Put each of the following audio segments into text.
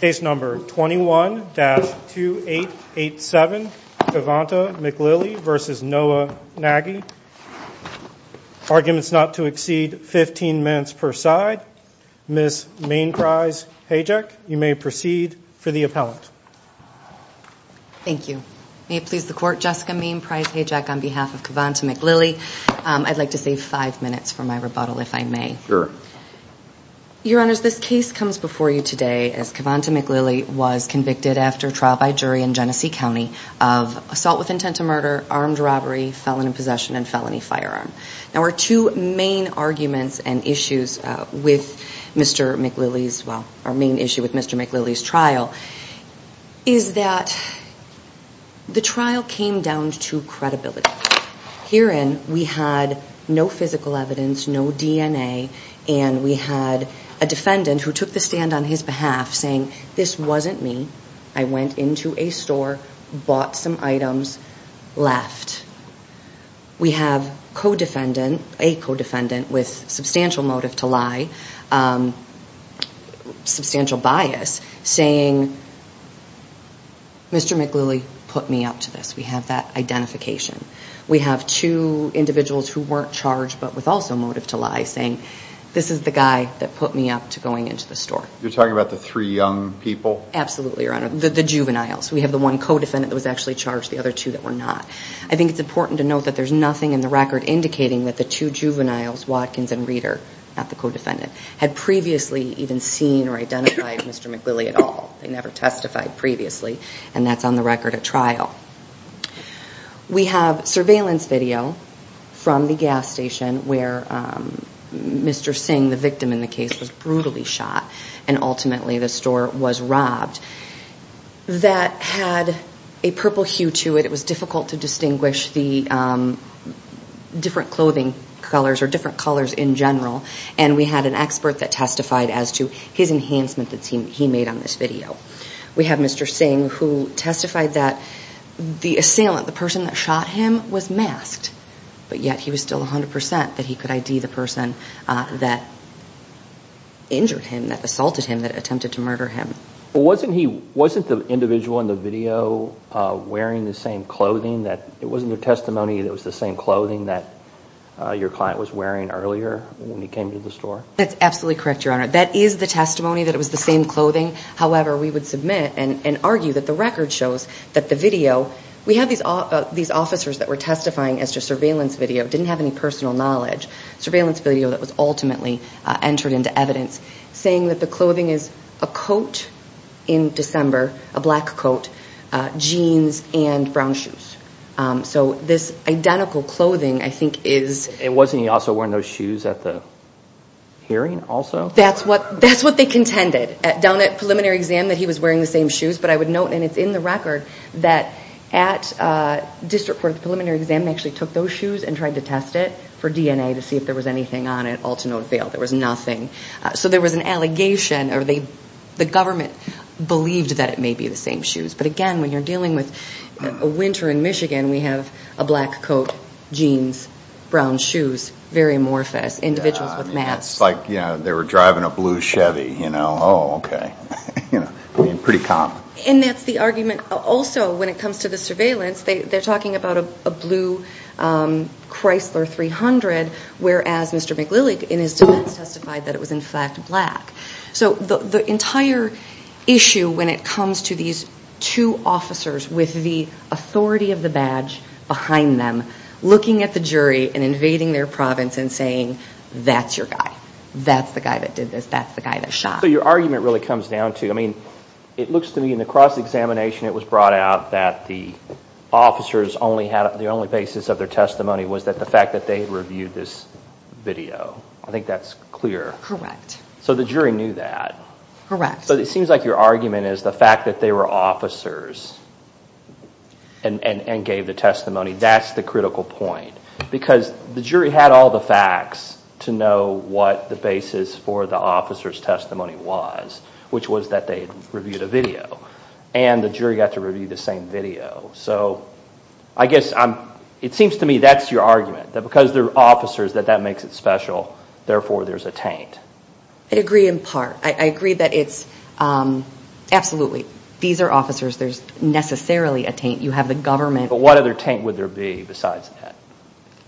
Case number 21-2887, Cavanta McLilly v. Noah Nagy Arguments not to exceed 15 minutes per side Ms. Mainprise Hajek, you may proceed for the appellant Thank you. May it please the court, Jessica Mainprise Hajek on behalf of Cavanta McLilly I'd like to save 5 minutes for my rebuttal if I may Sure Your honors, this case comes before you today as Cavanta McLilly was convicted after trial by jury in Genesee County of assault with intent to murder, armed robbery, felon in possession and felony firearm Now our two main arguments and issues with Mr. McLilly's, well, our main issue with Mr. McLilly's trial is that the trial came down to credibility Herein, we had no physical evidence, no DNA, and we had a defendant who took the stand on his behalf saying, this wasn't me, I went into a store, bought some items, left We have co-defendant, a co-defendant with substantial motive to lie, substantial bias saying, Mr. McLilly put me up to this, we have that identification We have two individuals who weren't charged but with also motive to lie saying, this is the guy that put me up to going into the store You're talking about the three young people? Absolutely, your honor, the juveniles, we have the one co-defendant that was actually charged, the other two that were not I think it's important to note that there's nothing in the record indicating that the two juveniles, Watkins and Reeder, not the co-defendant had previously even seen or identified Mr. McLilly at all, they never testified previously and that's on the record at trial We have surveillance video from the gas station where Mr. Singh, the victim in the case, was brutally shot and ultimately the store was robbed that had a purple hue to it, it was difficult to distinguish the different clothing colors or different colors in general and we had an expert that testified as to his enhancement that he made on this video We have Mr. Singh who testified that the assailant, the person that shot him, was masked but yet he was still 100% that he could ID the person that injured him, that assaulted him, that attempted to murder him Wasn't the individual in the video wearing the same clothing? It wasn't their testimony that it was the same clothing that your client was wearing earlier when he came to the store? That's absolutely correct, your honor, that is the testimony that it was the same clothing However, we would submit and argue that the record shows that the video We have these officers that were testifying as to surveillance video, didn't have any personal knowledge surveillance video that was ultimately entered into evidence saying that the clothing is a coat in December, a black coat, jeans and brown shoes So this identical clothing I think is... And wasn't he also wearing those shoes at the hearing also? That's what they contended, down at preliminary exam that he was wearing the same shoes But I would note, and it's in the record, that at district court at the preliminary exam they actually took those shoes and tried to test it for DNA to see if there was anything on it All to no avail, there was nothing So there was an allegation, or the government believed that it may be the same shoes But again, when you're dealing with a winter in Michigan, we have a black coat, jeans, brown shoes, very amorphous, individuals with masks It's like they were driving a blue Chevy, you know, oh okay, pretty common And that's the argument also when it comes to the surveillance, they're talking about a blue Chrysler 300 Whereas Mr. McLillig in his defense testified that it was in fact black So the entire issue when it comes to these two officers with the authority of the badge behind them Looking at the jury and invading their province and saying, that's your guy, that's the guy that did this, that's the guy that shot So your argument really comes down to, I mean, it looks to me in the cross-examination it was brought out that the officers only had, the only basis of their testimony was that the fact that they reviewed this video I think that's clear Correct So the jury knew that Correct But it seems like your argument is the fact that they were officers and gave the testimony, that's the critical point Because the jury had all the facts to know what the basis for the officer's testimony was Which was that they reviewed a video And the jury got to review the same video So I guess, it seems to me that's your argument, that because they're officers that that makes it special, therefore there's a taint I agree in part, I agree that it's, absolutely, these are officers, there's necessarily a taint, you have the government But what other taint would there be besides that?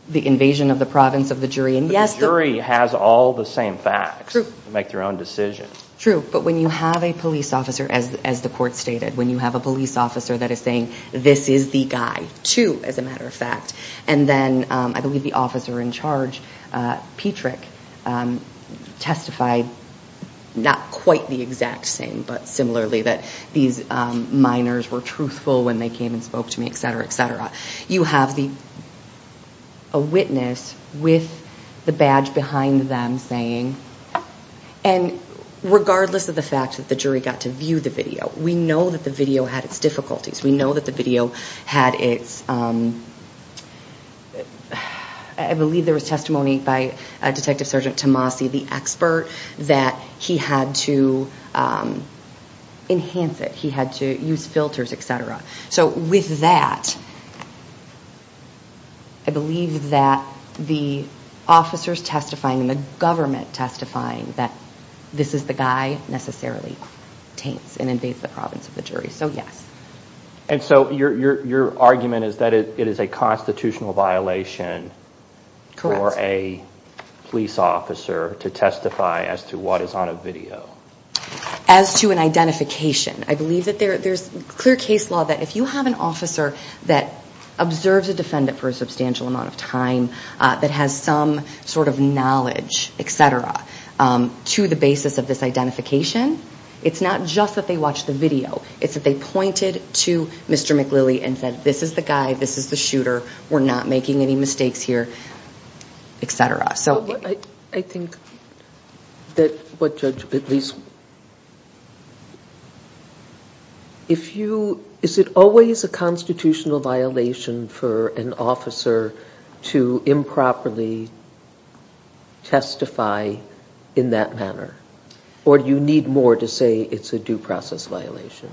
The invasion of the province of the jury, and yes But the jury has all the same facts True To make their own decisions True, but when you have a police officer, as the court stated, when you have a police officer that is saying, this is the guy, too, as a matter of fact And then, I believe the officer in charge, Petrick, testified, not quite the exact same, but similarly, that these minors were truthful when they came and spoke to me, etc, etc You have a witness with the badge behind them saying And regardless of the fact that the jury got to view the video, we know that the video had its difficulties We know that the video had its, I believe there was testimony by Detective Sergeant Tomasi, the expert, that he had to enhance it, he had to use filters, etc So, with that, I believe that the officers testifying and the government testifying that this is the guy necessarily taints and invades the province of the jury And so, your argument is that it is a constitutional violation for a police officer to testify as to what is on a video As to an identification I believe that there's clear case law that if you have an officer that observes a defendant for a substantial amount of time, that has some sort of knowledge, etc, to the basis of this identification It's not just that they watched the video, it's that they pointed to Mr. McLilley and said, this is the guy, this is the shooter, we're not making any mistakes here, etc I think that what Judge Bitlis, if you, is it always a constitutional violation for an officer to improperly testify in that manner? Or do you need more to say it's a due process violation?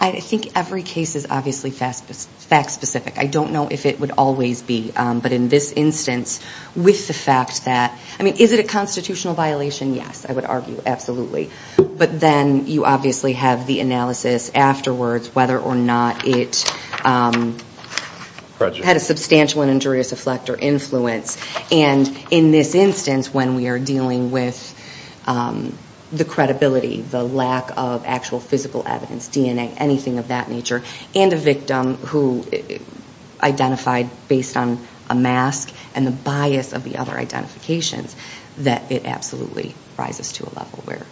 I think every case is obviously fact specific, I don't know if it would always be, but in this instance, with the fact that, I mean, is it a constitutional violation? Yes, I would argue, absolutely But then, you obviously have the analysis afterwards whether or not it had a substantial and injurious effect or influence And in this instance when we are dealing with the credibility, the lack of actual physical evidence, DNA, anything of that nature And a victim who identified based on a mask and the bias of the other identifications, that it absolutely rises to a level where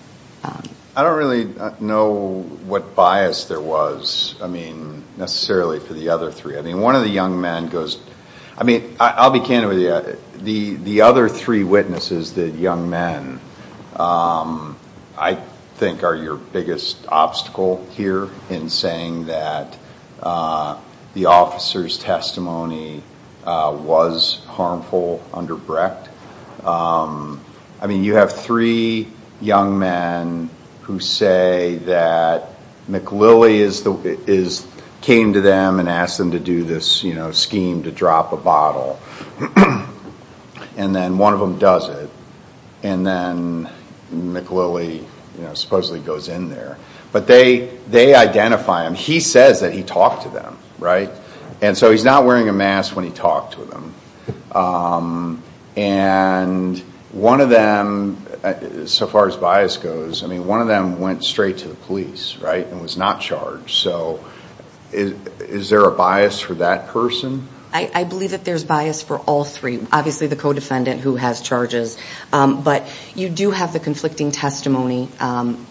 I don't really know what bias there was, I mean, necessarily for the other three I mean, one of the young men goes, I mean, I'll be candid with you, the other three witnesses, the young men, I think are your biggest obstacle here In saying that the officer's testimony was harmful under Brecht I mean, you have three young men who say that McLilley came to them and asked them to do this scheme to drop a bottle And then one of them does it, and then McLilley supposedly goes in there But they identify him, he says that he talked to them, right? And so he's not wearing a mask when he talked to them And one of them, so far as bias goes, I mean, one of them went straight to the police, right? And was not charged, so is there a bias for that person? I believe that there's bias for all three, obviously the co-defendant who has charges But you do have the conflicting testimony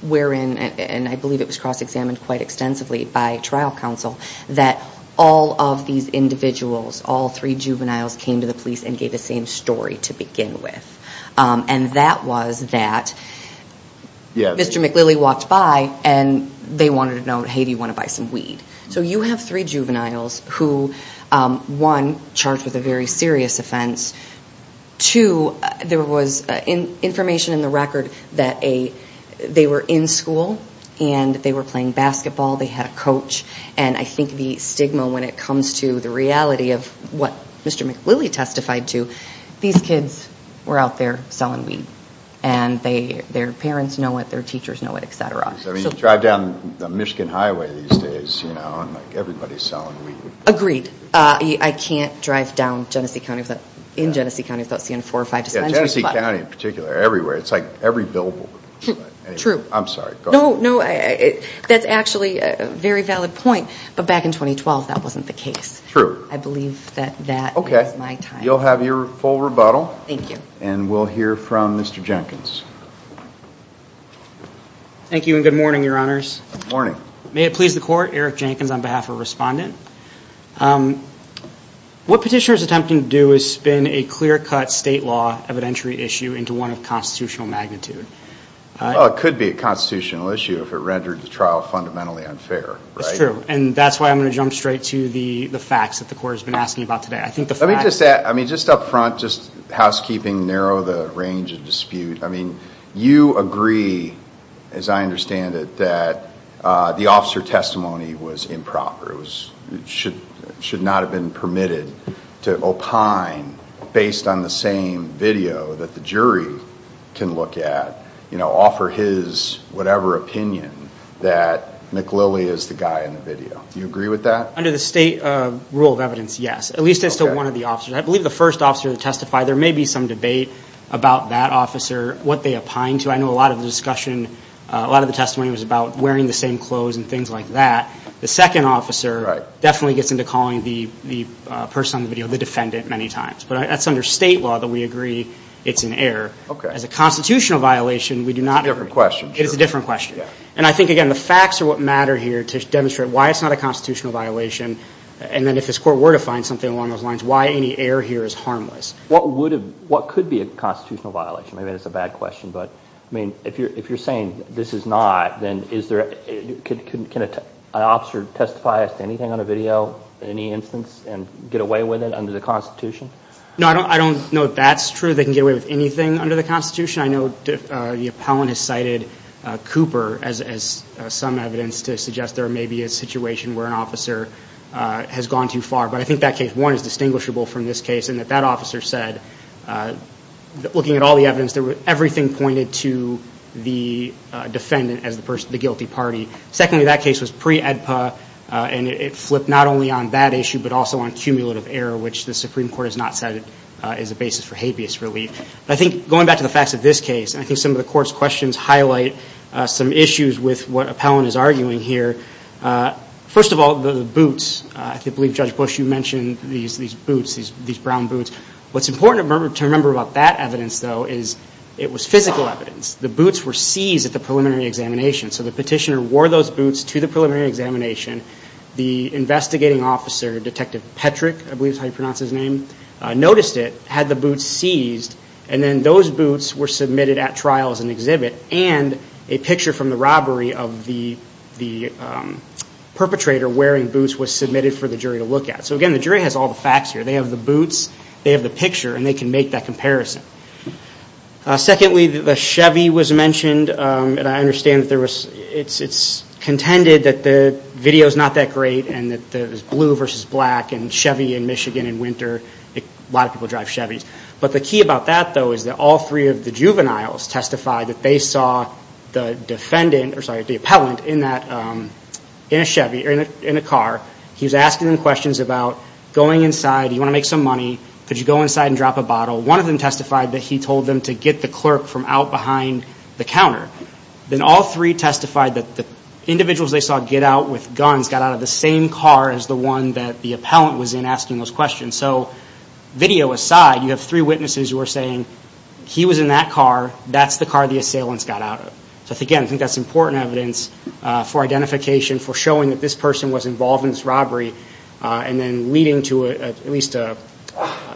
wherein, and I believe it was cross-examined quite extensively by trial counsel That all of these individuals, all three juveniles came to the police and gave the same story to begin with And that was that Mr. McLilley walked by and they wanted to know, hey, do you want to buy some weed? So you have three juveniles who, one, charged with a very serious offense Two, there was information in the record that they were in school and they were playing basketball They had a coach, and I think the stigma when it comes to the reality of what Mr. McLilley testified to These kids were out there selling weed, and their parents know it, their teachers know it, etc. I mean, you drive down the Michigan highway these days, you know, and everybody's selling weed Agreed, I can't drive down in Genesee County without seeing four or five dispensaries Yeah, Genesee County in particular, everywhere, it's like every billboard I'm sorry, go ahead No, no, that's actually a very valid point, but back in 2012 that wasn't the case True I believe that that is my time Okay, you'll have your full rebuttal Thank you And we'll hear from Mr. Jenkins Thank you and good morning, Your Honors Good morning May it please the Court, Eric Jenkins on behalf of Respondent What petitioner is attempting to do is spin a clear-cut state law evidentiary issue into one of constitutional magnitude Well, it could be a constitutional issue if it rendered the trial fundamentally unfair, right? That's true, and that's why I'm going to jump straight to the facts that the Court has been asking about today I think the facts Let me just add, I mean, just up front, just housekeeping, narrow the range of dispute I mean, you agree, as I understand it, that the officer testimony was improper It should not have been permitted to opine based on the same video that the jury can look at You know, offer his whatever opinion that McLilley is the guy in the video Do you agree with that? Under the state rule of evidence, yes Okay At least as to one of the officers I believe the first officer to testify, there may be some debate about that officer, what they opined to I know a lot of the discussion, a lot of the testimony was about wearing the same clothes and things like that The second officer definitely gets into calling the person on the video the defendant many times But that's under state law that we agree it's an error Okay As a constitutional violation, we do not agree It's a different question It is a different question And I think, again, the facts are what matter here to demonstrate why it's not a constitutional violation And then if this Court were to find something along those lines, why any error here is harmless What could be a constitutional violation? Maybe that's a bad question, but, I mean, if you're saying this is not, then is there Can an officer testify against anything on a video in any instance and get away with it under the Constitution? No, I don't know if that's true, they can get away with anything under the Constitution I know the appellant has cited Cooper as some evidence to suggest there may be a situation where an officer has gone too far But I think that case, one, is distinguishable from this case in that that officer said, looking at all the evidence, everything pointed to the defendant as the guilty party Secondly, that case was pre-EDPA, and it flipped not only on that issue but also on cumulative error which the Supreme Court has not said is a basis for habeas relief But I think, going back to the facts of this case, I think some of the Court's questions highlight some issues with what appellant is arguing here First of all, the boots, I believe Judge Bush, you mentioned these boots, these brown boots What's important to remember about that evidence, though, is it was physical evidence The boots were seized at the preliminary examination So the petitioner wore those boots to the preliminary examination The investigating officer, Detective Petrick, I believe is how you pronounce his name, noticed it, had the boots seized And then those boots were submitted at trial as an exhibit And a picture from the robbery of the perpetrator wearing boots was submitted for the jury to look at So again, the jury has all the facts here They have the boots, they have the picture, and they can make that comparison Secondly, the Chevy was mentioned And I understand that there was, it's contended that the video's not that great and that there's blue versus black and Chevy in Michigan in winter A lot of people drive Chevys But the key about that, though, is that all three of the juveniles testified that they saw the defendant or, sorry, the appellant in a Chevy or in a car He was asking them questions about going inside, do you want to make some money? Could you go inside and drop a bottle? One of them testified that he told them to get the clerk from out behind the counter Then all three testified that the individuals they saw get out with guns got out of the same car as the one that the appellant was in asking those questions And so, video aside, you have three witnesses who are saying he was in that car, that's the car the assailants got out of So again, I think that's important evidence for identification for showing that this person was involved in this robbery and then leading to at least an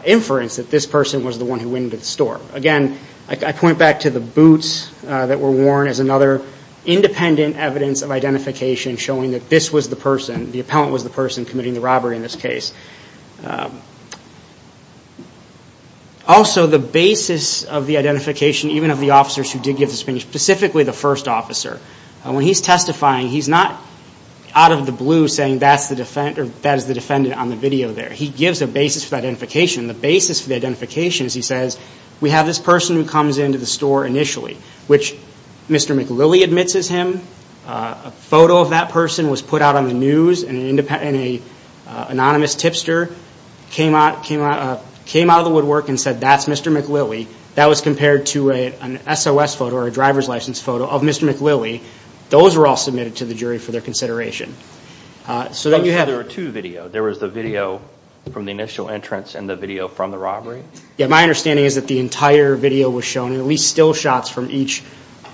inference that this person was the one who went into the store Again, I point back to the boots that were worn as another independent evidence of identification showing that this was the person, the appellant was the person committing the robbery in this case Also, the basis of the identification, even of the officers who did give this opinion specifically the first officer When he's testifying, he's not out of the blue saying that's the defendant on the video there He gives a basis for the identification The basis for the identification is he says we have this person who comes into the store initially which Mr. McLilley admits is him A photo of that person was put out on the news and an anonymous tipster came out of the woodwork and said that's Mr. McLilley That was compared to an SOS photo or a driver's license photo of Mr. McLilley Those were all submitted to the jury for their consideration There were two videos There was the video from the initial entrance and the video from the robbery? My understanding is that the entire video was shown At least still shots from each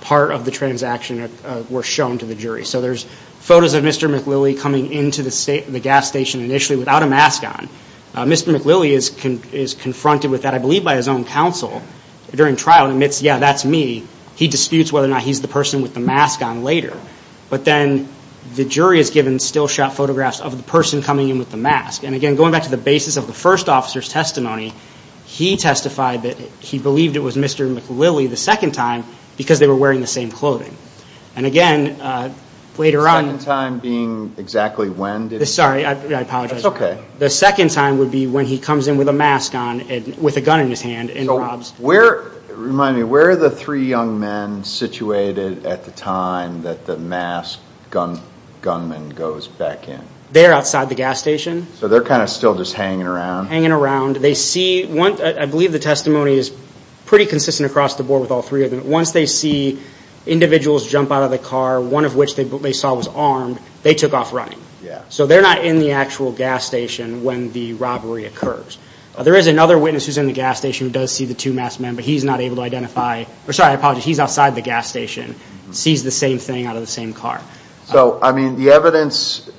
part of the transaction were shown to the jury There's photos of Mr. McLilley coming into the gas station initially without a mask on Mr. McLilley is confronted with that, I believe by his own counsel during trial and admits, yeah, that's me He disputes whether or not he's the person with the mask on later But then the jury is given still shot photographs of the person coming in with the mask He testified that he believed it was Mr. McLilley the second time because they were wearing the same clothing And again, later on The second time being exactly when? Sorry, I apologize The second time would be when he comes in with a mask on with a gun in his hand and robs Remind me, where are the three young men situated at the time that the masked gunman goes back in? They're outside the gas station So they're kind of still just hanging around? Hanging around I believe the testimony is pretty consistent across the board with all three of them Once they see individuals jump out of the car, one of which they saw was armed they took off running So they're not in the actual gas station when the robbery occurs There is another witness who's in the gas station who does see the two masked men but he's not able to identify Sorry, I apologize, he's outside the gas station sees the same thing out of the same car So, I mean, the evidence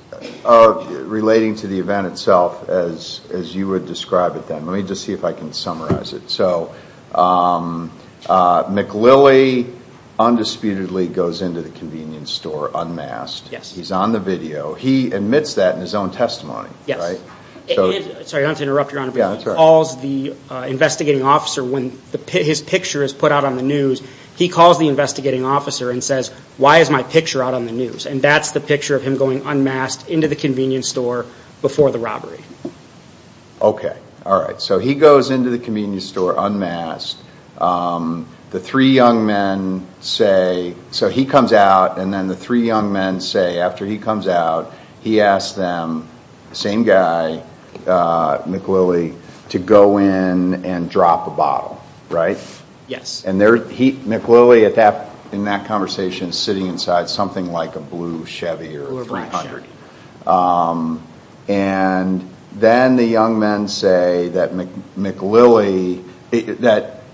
relating to the event itself as you would describe it then Let me just see if I can summarize it So, McLilley undisputedly goes into the convenience store unmasked Yes He's on the video He admits that in his own testimony, right? Yes Sorry, I don't want to interrupt, Your Honor Yeah, that's all right He calls the investigating officer when his picture is put out on the news He calls the investigating officer and says, Why is my picture out on the news? And that's the picture of him going unmasked into the convenience store before the robbery Okay, all right So he goes into the convenience store unmasked The three young men say So he comes out and then the three young men say After he comes out, he asks them Same guy, McLilley, to go in and drop a bottle, right? Yes And McLilley in that conversation is sitting inside something like a blue Chevy or 300 And then the young men say that McLilley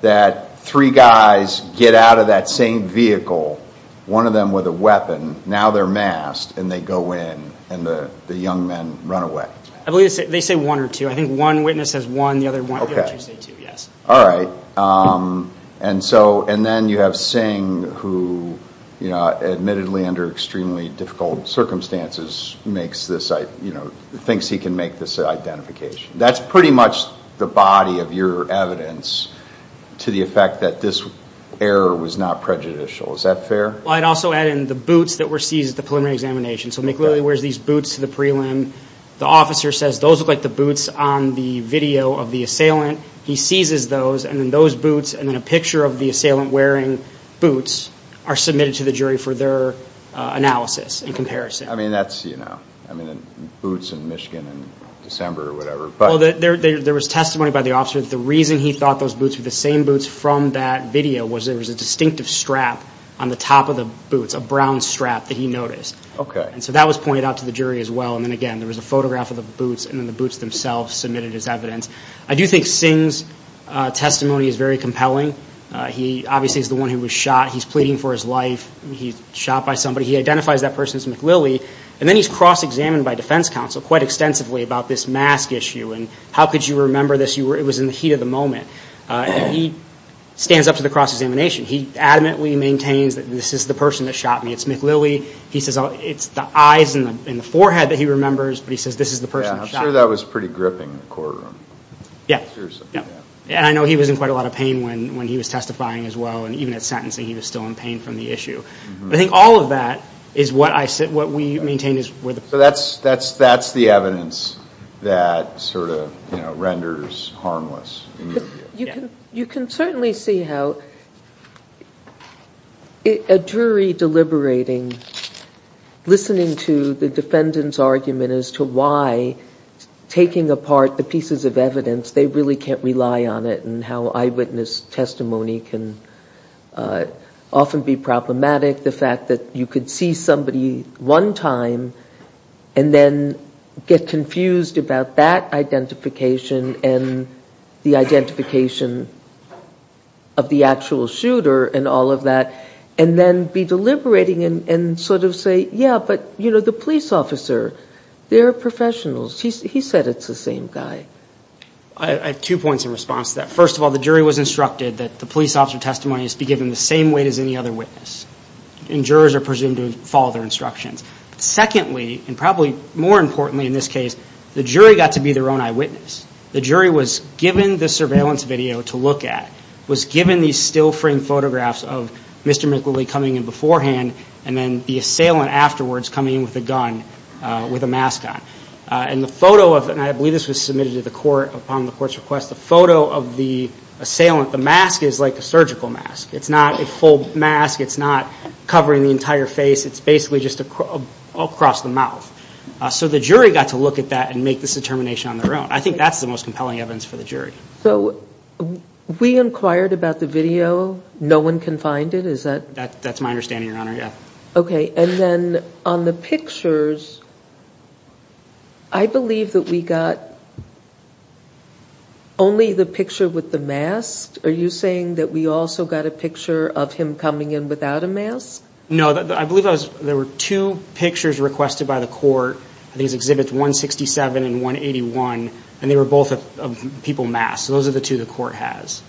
That three guys get out of that same vehicle One of them with a weapon Now they're masked And they go in And the young men run away I believe they say one or two I think one witness says one The other one Okay All right And then you have Singh who Admittedly under extremely difficult circumstances Thinks he can make this identification That's pretty much the body of your evidence To the effect that this error was not prejudicial Is that fair? I'd also add in the boots that were seized at the preliminary examination So McLilley wears these boots to the prelim The officer says those look like the boots on the video of the assailant He seizes those And then those boots And then a picture of the assailant wearing boots Are submitted to the jury for their analysis and comparison I mean that's, you know I mean boots in Michigan in December or whatever There was testimony by the officer That the reason he thought those boots were the same boots from that video Was there was a distinctive strap on the top of the boots A brown strap that he noticed Okay And so that was pointed out to the jury as well And then again there was a photograph of the boots And then the boots themselves submitted as evidence I do think Singh's testimony is very compelling He obviously is the one who was shot He's pleading for his life He's shot by somebody He identifies that person as McLilley And then he's cross-examined by defense counsel Quite extensively about this mask issue And how could you remember this? It was in the heat of the moment And he stands up to the cross-examination He adamantly maintains that this is the person that shot me It's McLilley He says it's the eyes and the forehead that he remembers But he says this is the person that shot him I'm sure that was pretty gripping in the courtroom Yeah And I know he was in quite a lot of pain when he was testifying as well And even at sentencing he was still in pain from the issue But I think all of that is what we maintain is where the So that's the evidence that sort of renders harmless You can certainly see how a jury deliberating Listening to the defendant's argument as to why Taking apart the pieces of evidence They really can't rely on it And how eyewitness testimony can often be problematic The fact that you could see somebody one time And then get confused about that identification And the identification of the actual shooter And all of that And then be deliberating and sort of say Yeah, but the police officer, they're professionals He said it's the same guy I have two points in response to that First of all, the jury was instructed that the police officer testimony Must be given the same weight as any other witness And jurors are presumed to follow their instructions Secondly, and probably more importantly in this case The jury got to be their own eyewitness The jury was given the surveillance video to look at Was given these still framed photographs of Mr. McWillie coming in beforehand And then the assailant afterwards coming in with a gun With a mask on And the photo of, and I believe this was submitted to the court Upon the court's request The photo of the assailant The mask is like a surgical mask It's not a full mask It's not covering the entire face It's basically just across the mouth So the jury got to look at that And make this determination on their own I think that's the most compelling evidence for the jury So we inquired about the video No one can find it, is that? That's my understanding, your honor, yeah Okay, and then on the pictures I believe that we got Only the picture with the mask Are you saying that we also got a picture of him coming in without a mask? No, I believe there were two pictures requested by the court These exhibits 167 and 181 And they were both of people masked So those are the two the court has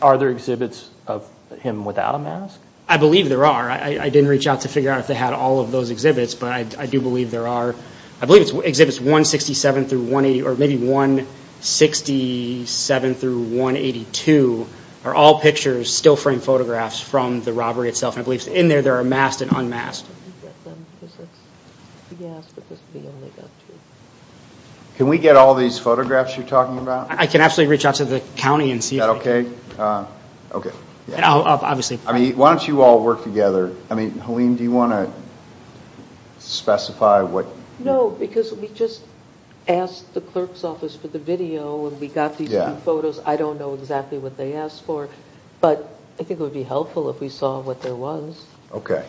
Are there exhibits of him without a mask? I believe there are I didn't reach out to figure out if they had all of those exhibits But I do believe there are I believe it's exhibits 167 through 180 Or maybe 167 through 182 Are all pictures, still frame photographs From the robbery itself And I believe in there, there are masked and unmasked Yes, but this would be only up to Can we get all these photographs you're talking about? I can actually reach out to the county and see if we can Is that okay? Why don't you all work together I mean, Helene, do you want to specify what No, because we just asked the clerk's office for the video And we got these two photos I don't know exactly what they asked for But I think it would be helpful if we saw what there was Okay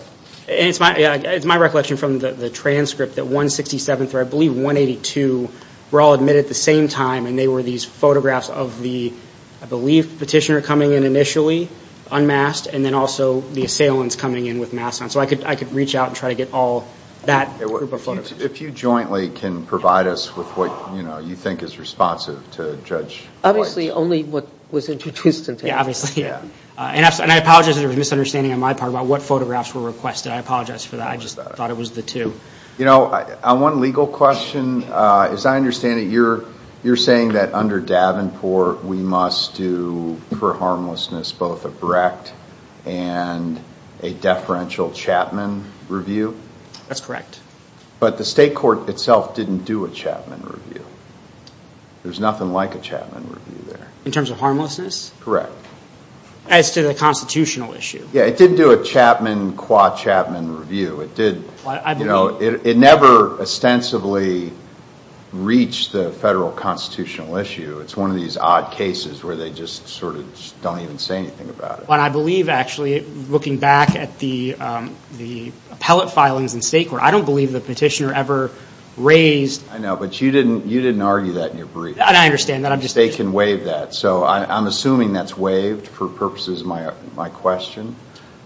It's my recollection from the transcript That 167 through, I believe, 182 Were all admitted at the same time And they were these photographs of the I believe petitioner coming in initially Unmasked And then also the assailants coming in with masks on So I could reach out and try to get all that group of photographs If you jointly can provide us with what You think is responsive to Judge White Obviously only what was introduced to him Yeah, obviously And I apologize if there was misunderstanding on my part About what photographs were requested I apologize for that I just thought it was the two You know, on one legal question As I understand it, you're saying that under Davenport We must do, for harmlessness, both a Brecht And a deferential Chapman review? That's correct But the state court itself didn't do a Chapman review There's nothing like a Chapman review there In terms of harmlessness? Correct As to the constitutional issue Yeah, it didn't do a Chapman qua Chapman review It never ostensibly reached the federal constitutional issue It's one of these odd cases where they just sort of Don't even say anything about it I believe, actually, looking back at the Appellate filings in state court I don't believe the petitioner ever raised I know, but you didn't argue that in your brief I understand They can waive that I'm assuming that's waived for purposes of my question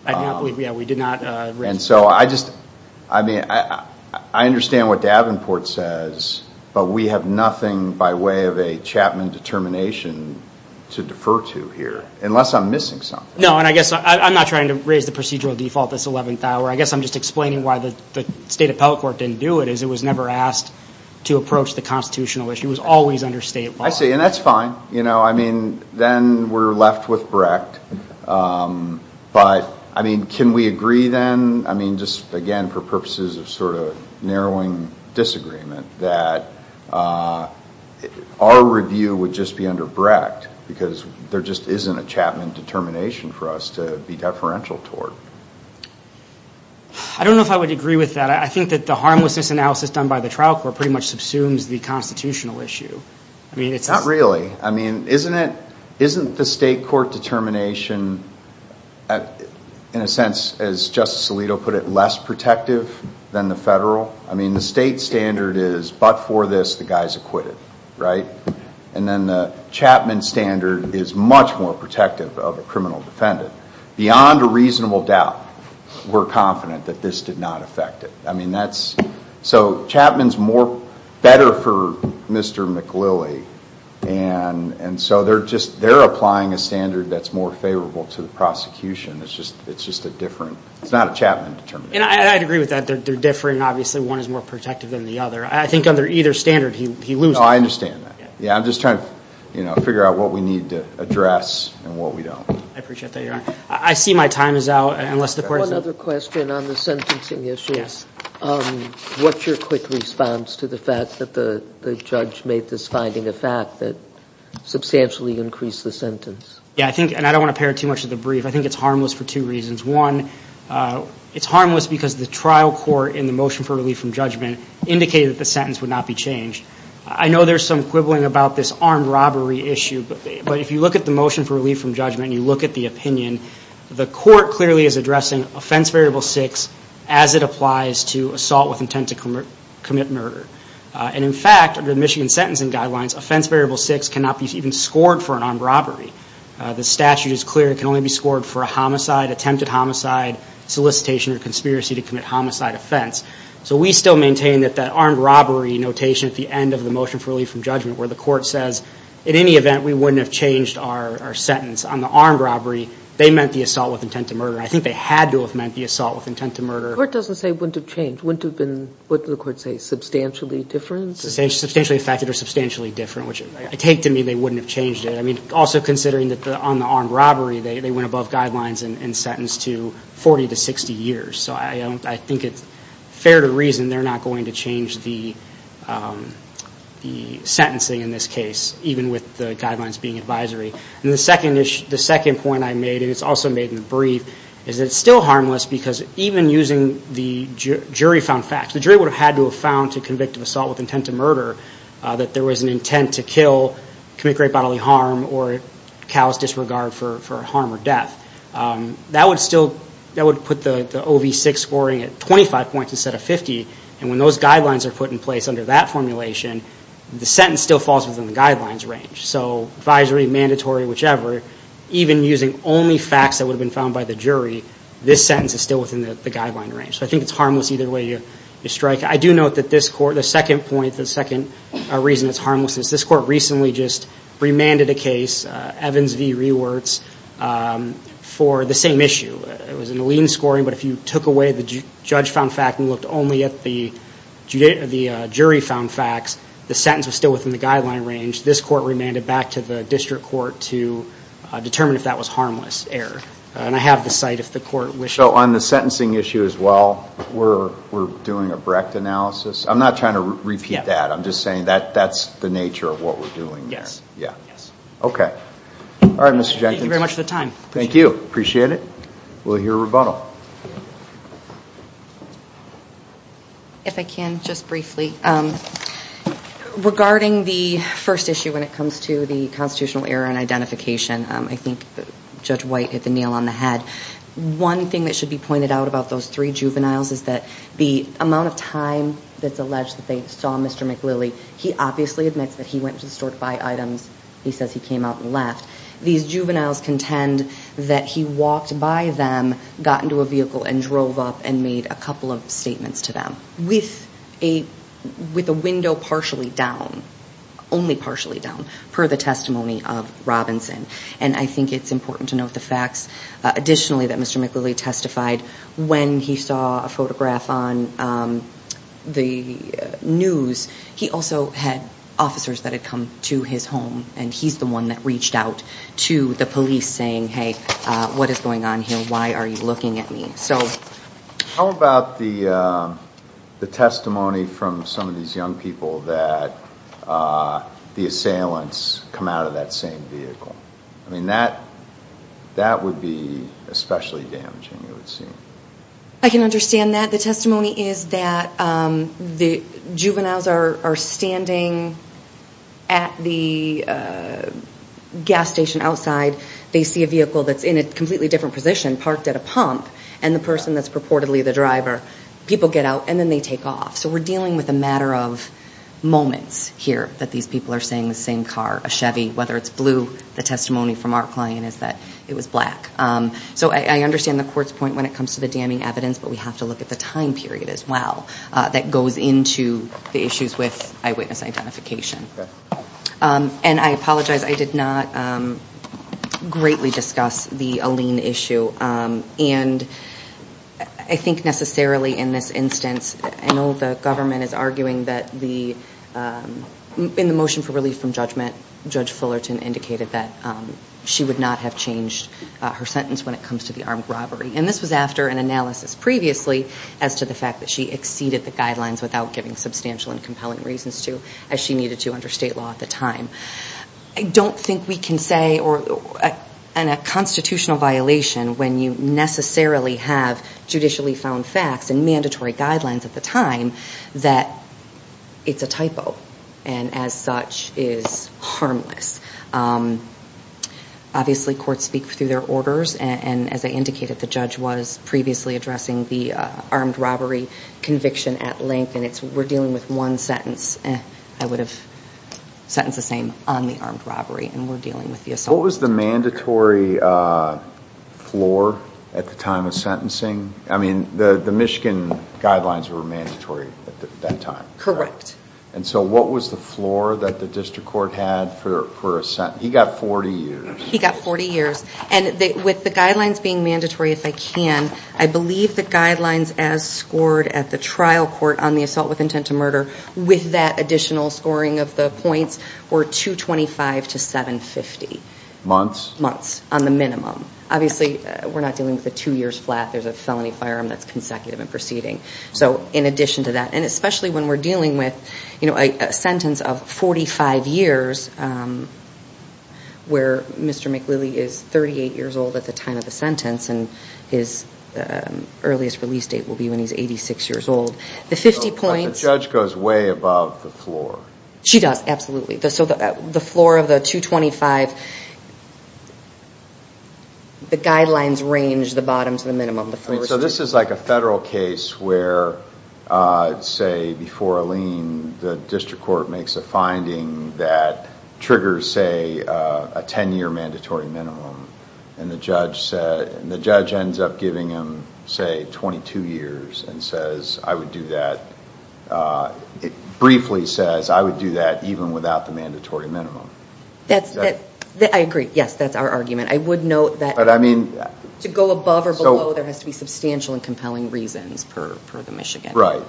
We did not raise that I understand what Davenport says But we have nothing by way of a Chapman determination To defer to here Unless I'm missing something I'm not trying to raise the procedural default this 11th hour I'm just explaining why the state appellate court didn't do it It was never asked to approach the constitutional issue It was always under state law I see, and that's fine Then we're left with Brecht But can we agree then Just again for purposes of sort of narrowing disagreement That our review would just be under Brecht Because there just isn't a Chapman determination for us To be deferential toward I don't know if I would agree with that I think that the harmlessness analysis done by the trial court Pretty much subsumes the constitutional issue Not really Isn't the state court determination In a sense as Justice Alito put it Less protective than the federal I mean the state standard is But for this the guy's acquitted And then the Chapman standard Is much more protective of a criminal defendant Beyond a reasonable doubt We're confident that this did not affect it So Chapman's better for Mr. McLilley And so they're applying a standard That's more favorable to the prosecution It's just a different It's not a Chapman determination And I'd agree with that They're different Obviously one is more protective than the other I think under either standard he loses I understand that I'm just trying to figure out what we need to address And what we don't I appreciate that your honor I see my time is out One other question on the sentencing issue Yes What's your quick response to the fact That the judge made this finding a fact That substantially increased the sentence Yeah I think And I don't want to pair it too much with the brief I think it's harmless for two reasons One it's harmless because the trial court In the motion for relief from judgment Indicated that the sentence would not be changed I know there's some quibbling about this Armed robbery issue But if you look at the motion for relief from judgment And you look at the opinion The court clearly is addressing Offense variable six As it applies to assault with intent to commit murder And in fact Under the Michigan sentencing guidelines Offense variable six Cannot be even scored for an armed robbery The statute is clear It can only be scored for a homicide Attempted homicide Solicitation or conspiracy to commit homicide offense So we still maintain that That armed robbery notation At the end of the motion for relief from judgment Where the court says In any event We wouldn't have changed our sentence On the armed robbery They meant the assault with intent to murder I think they had to have meant The assault with intent to murder The court doesn't say wouldn't have changed Wouldn't have been What did the court say? Substantially different? Substantially affected or substantially different Which I take to mean They wouldn't have changed it I mean also considering That on the armed robbery They went above guidelines And sentenced to 40 to 60 years So I think it's fair to reason They're not going to change The sentencing in this case Even with the guidelines being advisory And the second point I made And it's also made in the brief Is that it's still harmless Because even using the jury found facts The jury would have had to have found To convict of assault with intent to murder That there was an intent to kill Commit great bodily harm Or callous disregard for harm or death That would still That would put the OV6 scoring At 25 points instead of 50 And when those guidelines are put in place Under that formulation The sentence still falls within the guidelines range So advisory, mandatory, whichever Even using only facts That would have been found by the jury This sentence is still within the guideline range So I think it's harmless Either way you strike I do note that this court The second point The second reason it's harmless Is this court recently just remanded a case Evans v. Rewerts For the same issue It was in the lien scoring But if you took away the judge found fact And looked only at the jury found facts The sentence was still within the guideline range This court remanded back to the district court To determine if that was harmless error And I have the site if the court wishes So on the sentencing issue as well We're doing a Brecht analysis I'm not trying to repeat that I'm just saying that's the nature of what we're doing Yes Okay Alright Mr. Jenkins Thank you very much for the time Thank you Appreciate it We'll hear a rebuttal If I can just briefly Regarding the first issue When it comes to the constitutional error And identification I think Judge White hit the nail on the head One thing that should be pointed out About those three juveniles Is that the amount of time That's alleged that they saw Mr. McLilley He obviously admits that he went to the store to buy items He says he came out and left These juveniles contend that he walked by them Got into a vehicle and drove up And made a couple of statements to them With a window partially down Only partially down Per the testimony of Robinson And I think it's important to note the facts Additionally that Mr. McLilley testified When he saw a photograph on the news He also had officers that had come to his home And he's the one that reached out to the police Saying hey what is going on here Why are you looking at me How about the testimony from some of these young people That the assailants come out of that same vehicle I mean that would be especially damaging I can understand that The testimony is that the juveniles are standing At the gas station outside They see a vehicle that's in a completely different position Parked at a pump And the person that's purportedly the driver People get out and then they take off So we're dealing with a matter of moments here That these people are saying the same car A Chevy Whether it's blue The testimony from our client is that it was black So I understand the court's point When it comes to the damning evidence But we have to look at the time period as well That goes into the issues with eyewitness identification And I apologize I did not greatly discuss the Aline issue And I think necessarily in this instance I know the government is arguing that the In the motion for relief from judgment Judge Fullerton indicated that She would not have changed her sentence When it comes to the armed robbery And this was after an analysis previously As to the fact that she exceeded the guidelines Without giving substantial and compelling reasons to As she needed to under state law at the time I don't think we can say In a constitutional violation When you necessarily have judicially found facts And mandatory guidelines at the time That it's a typo And as such is harmless Obviously courts speak through their orders And as I indicated The judge was previously addressing The armed robbery conviction at length And we're dealing with one sentence I would have sentenced the same on the armed robbery And we're dealing with the assault What was the mandatory floor at the time of sentencing? I mean the Michigan guidelines were mandatory at that time Correct And so what was the floor that the district court had For a sentence? He got 40 years He got 40 years And with the guidelines being mandatory if I can I believe the guidelines as scored at the trial court On the assault with intent to murder With that additional scoring of the points Were 225 to 750 Months? Months on the minimum Obviously we're not dealing with a two years flat There's a felony firearm that's consecutive in proceeding So in addition to that And especially when we're dealing with A sentence of 45 years Where Mr. McLilley is 38 years old at the time of the sentence And his earliest release date will be when he's 86 years old The 50 points But the judge goes way above the floor She does, absolutely So the floor of the 225 The guidelines range the bottom to the minimum So this is like a federal case where Say before a lien The district court makes a finding that Triggers say a 10 year mandatory minimum And the judge ends up giving him Say 22 years and says I would do that It briefly says I would do that Even without the mandatory minimum I agree, yes, that's our argument I would note that To go above or below There has to be substantial and compelling reasons For the Michigan Right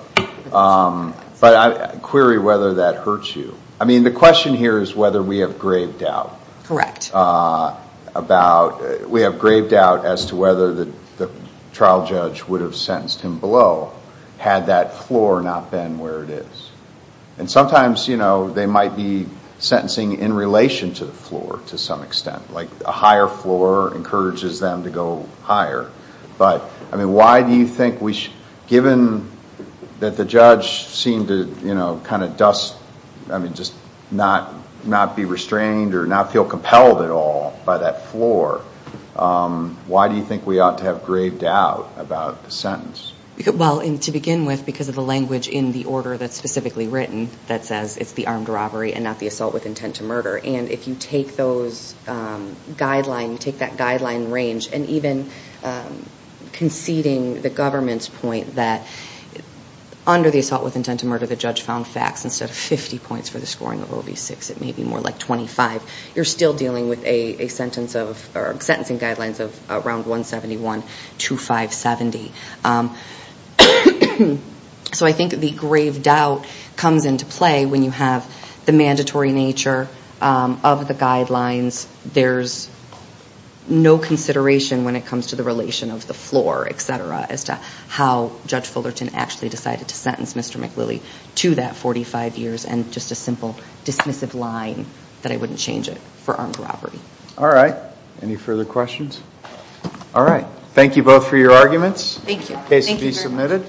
But I'd query whether that hurts you I mean the question here is whether we have grave doubt Correct About We have grave doubt as to whether The trial judge would have sentenced him below Had that floor not been where it is And sometimes, you know They might be sentencing in relation to the floor To some extent Like a higher floor encourages them to go higher But I mean why do you think we Given that the judge seemed to You know, kind of dust I mean just not Not be restrained or not feel compelled at all By that floor Why do you think we ought to have grave doubt About the sentence Well to begin with because of the language In the order that's specifically written That says it's the armed robbery And not the assault with intent to murder And if you take those guidelines Take that guideline range And even conceding the government's point That under the assault with intent to murder The judge found facts Instead of 50 points for the scoring of OB-6 It may be more like 25 You're still dealing with a sentence of Sentencing guidelines of around 171 to 570 So I think the grave doubt Comes into play when you have The mandatory nature of the guidelines There's no consideration When it comes to the relation of the floor Etc. as to how Judge Fullerton Actually decided to sentence Mr. McWillie To that 45 years And just a simple dismissive line That I wouldn't change it for armed robbery All right Any further questions All right Thank you both for your arguments Thank you Case to be submitted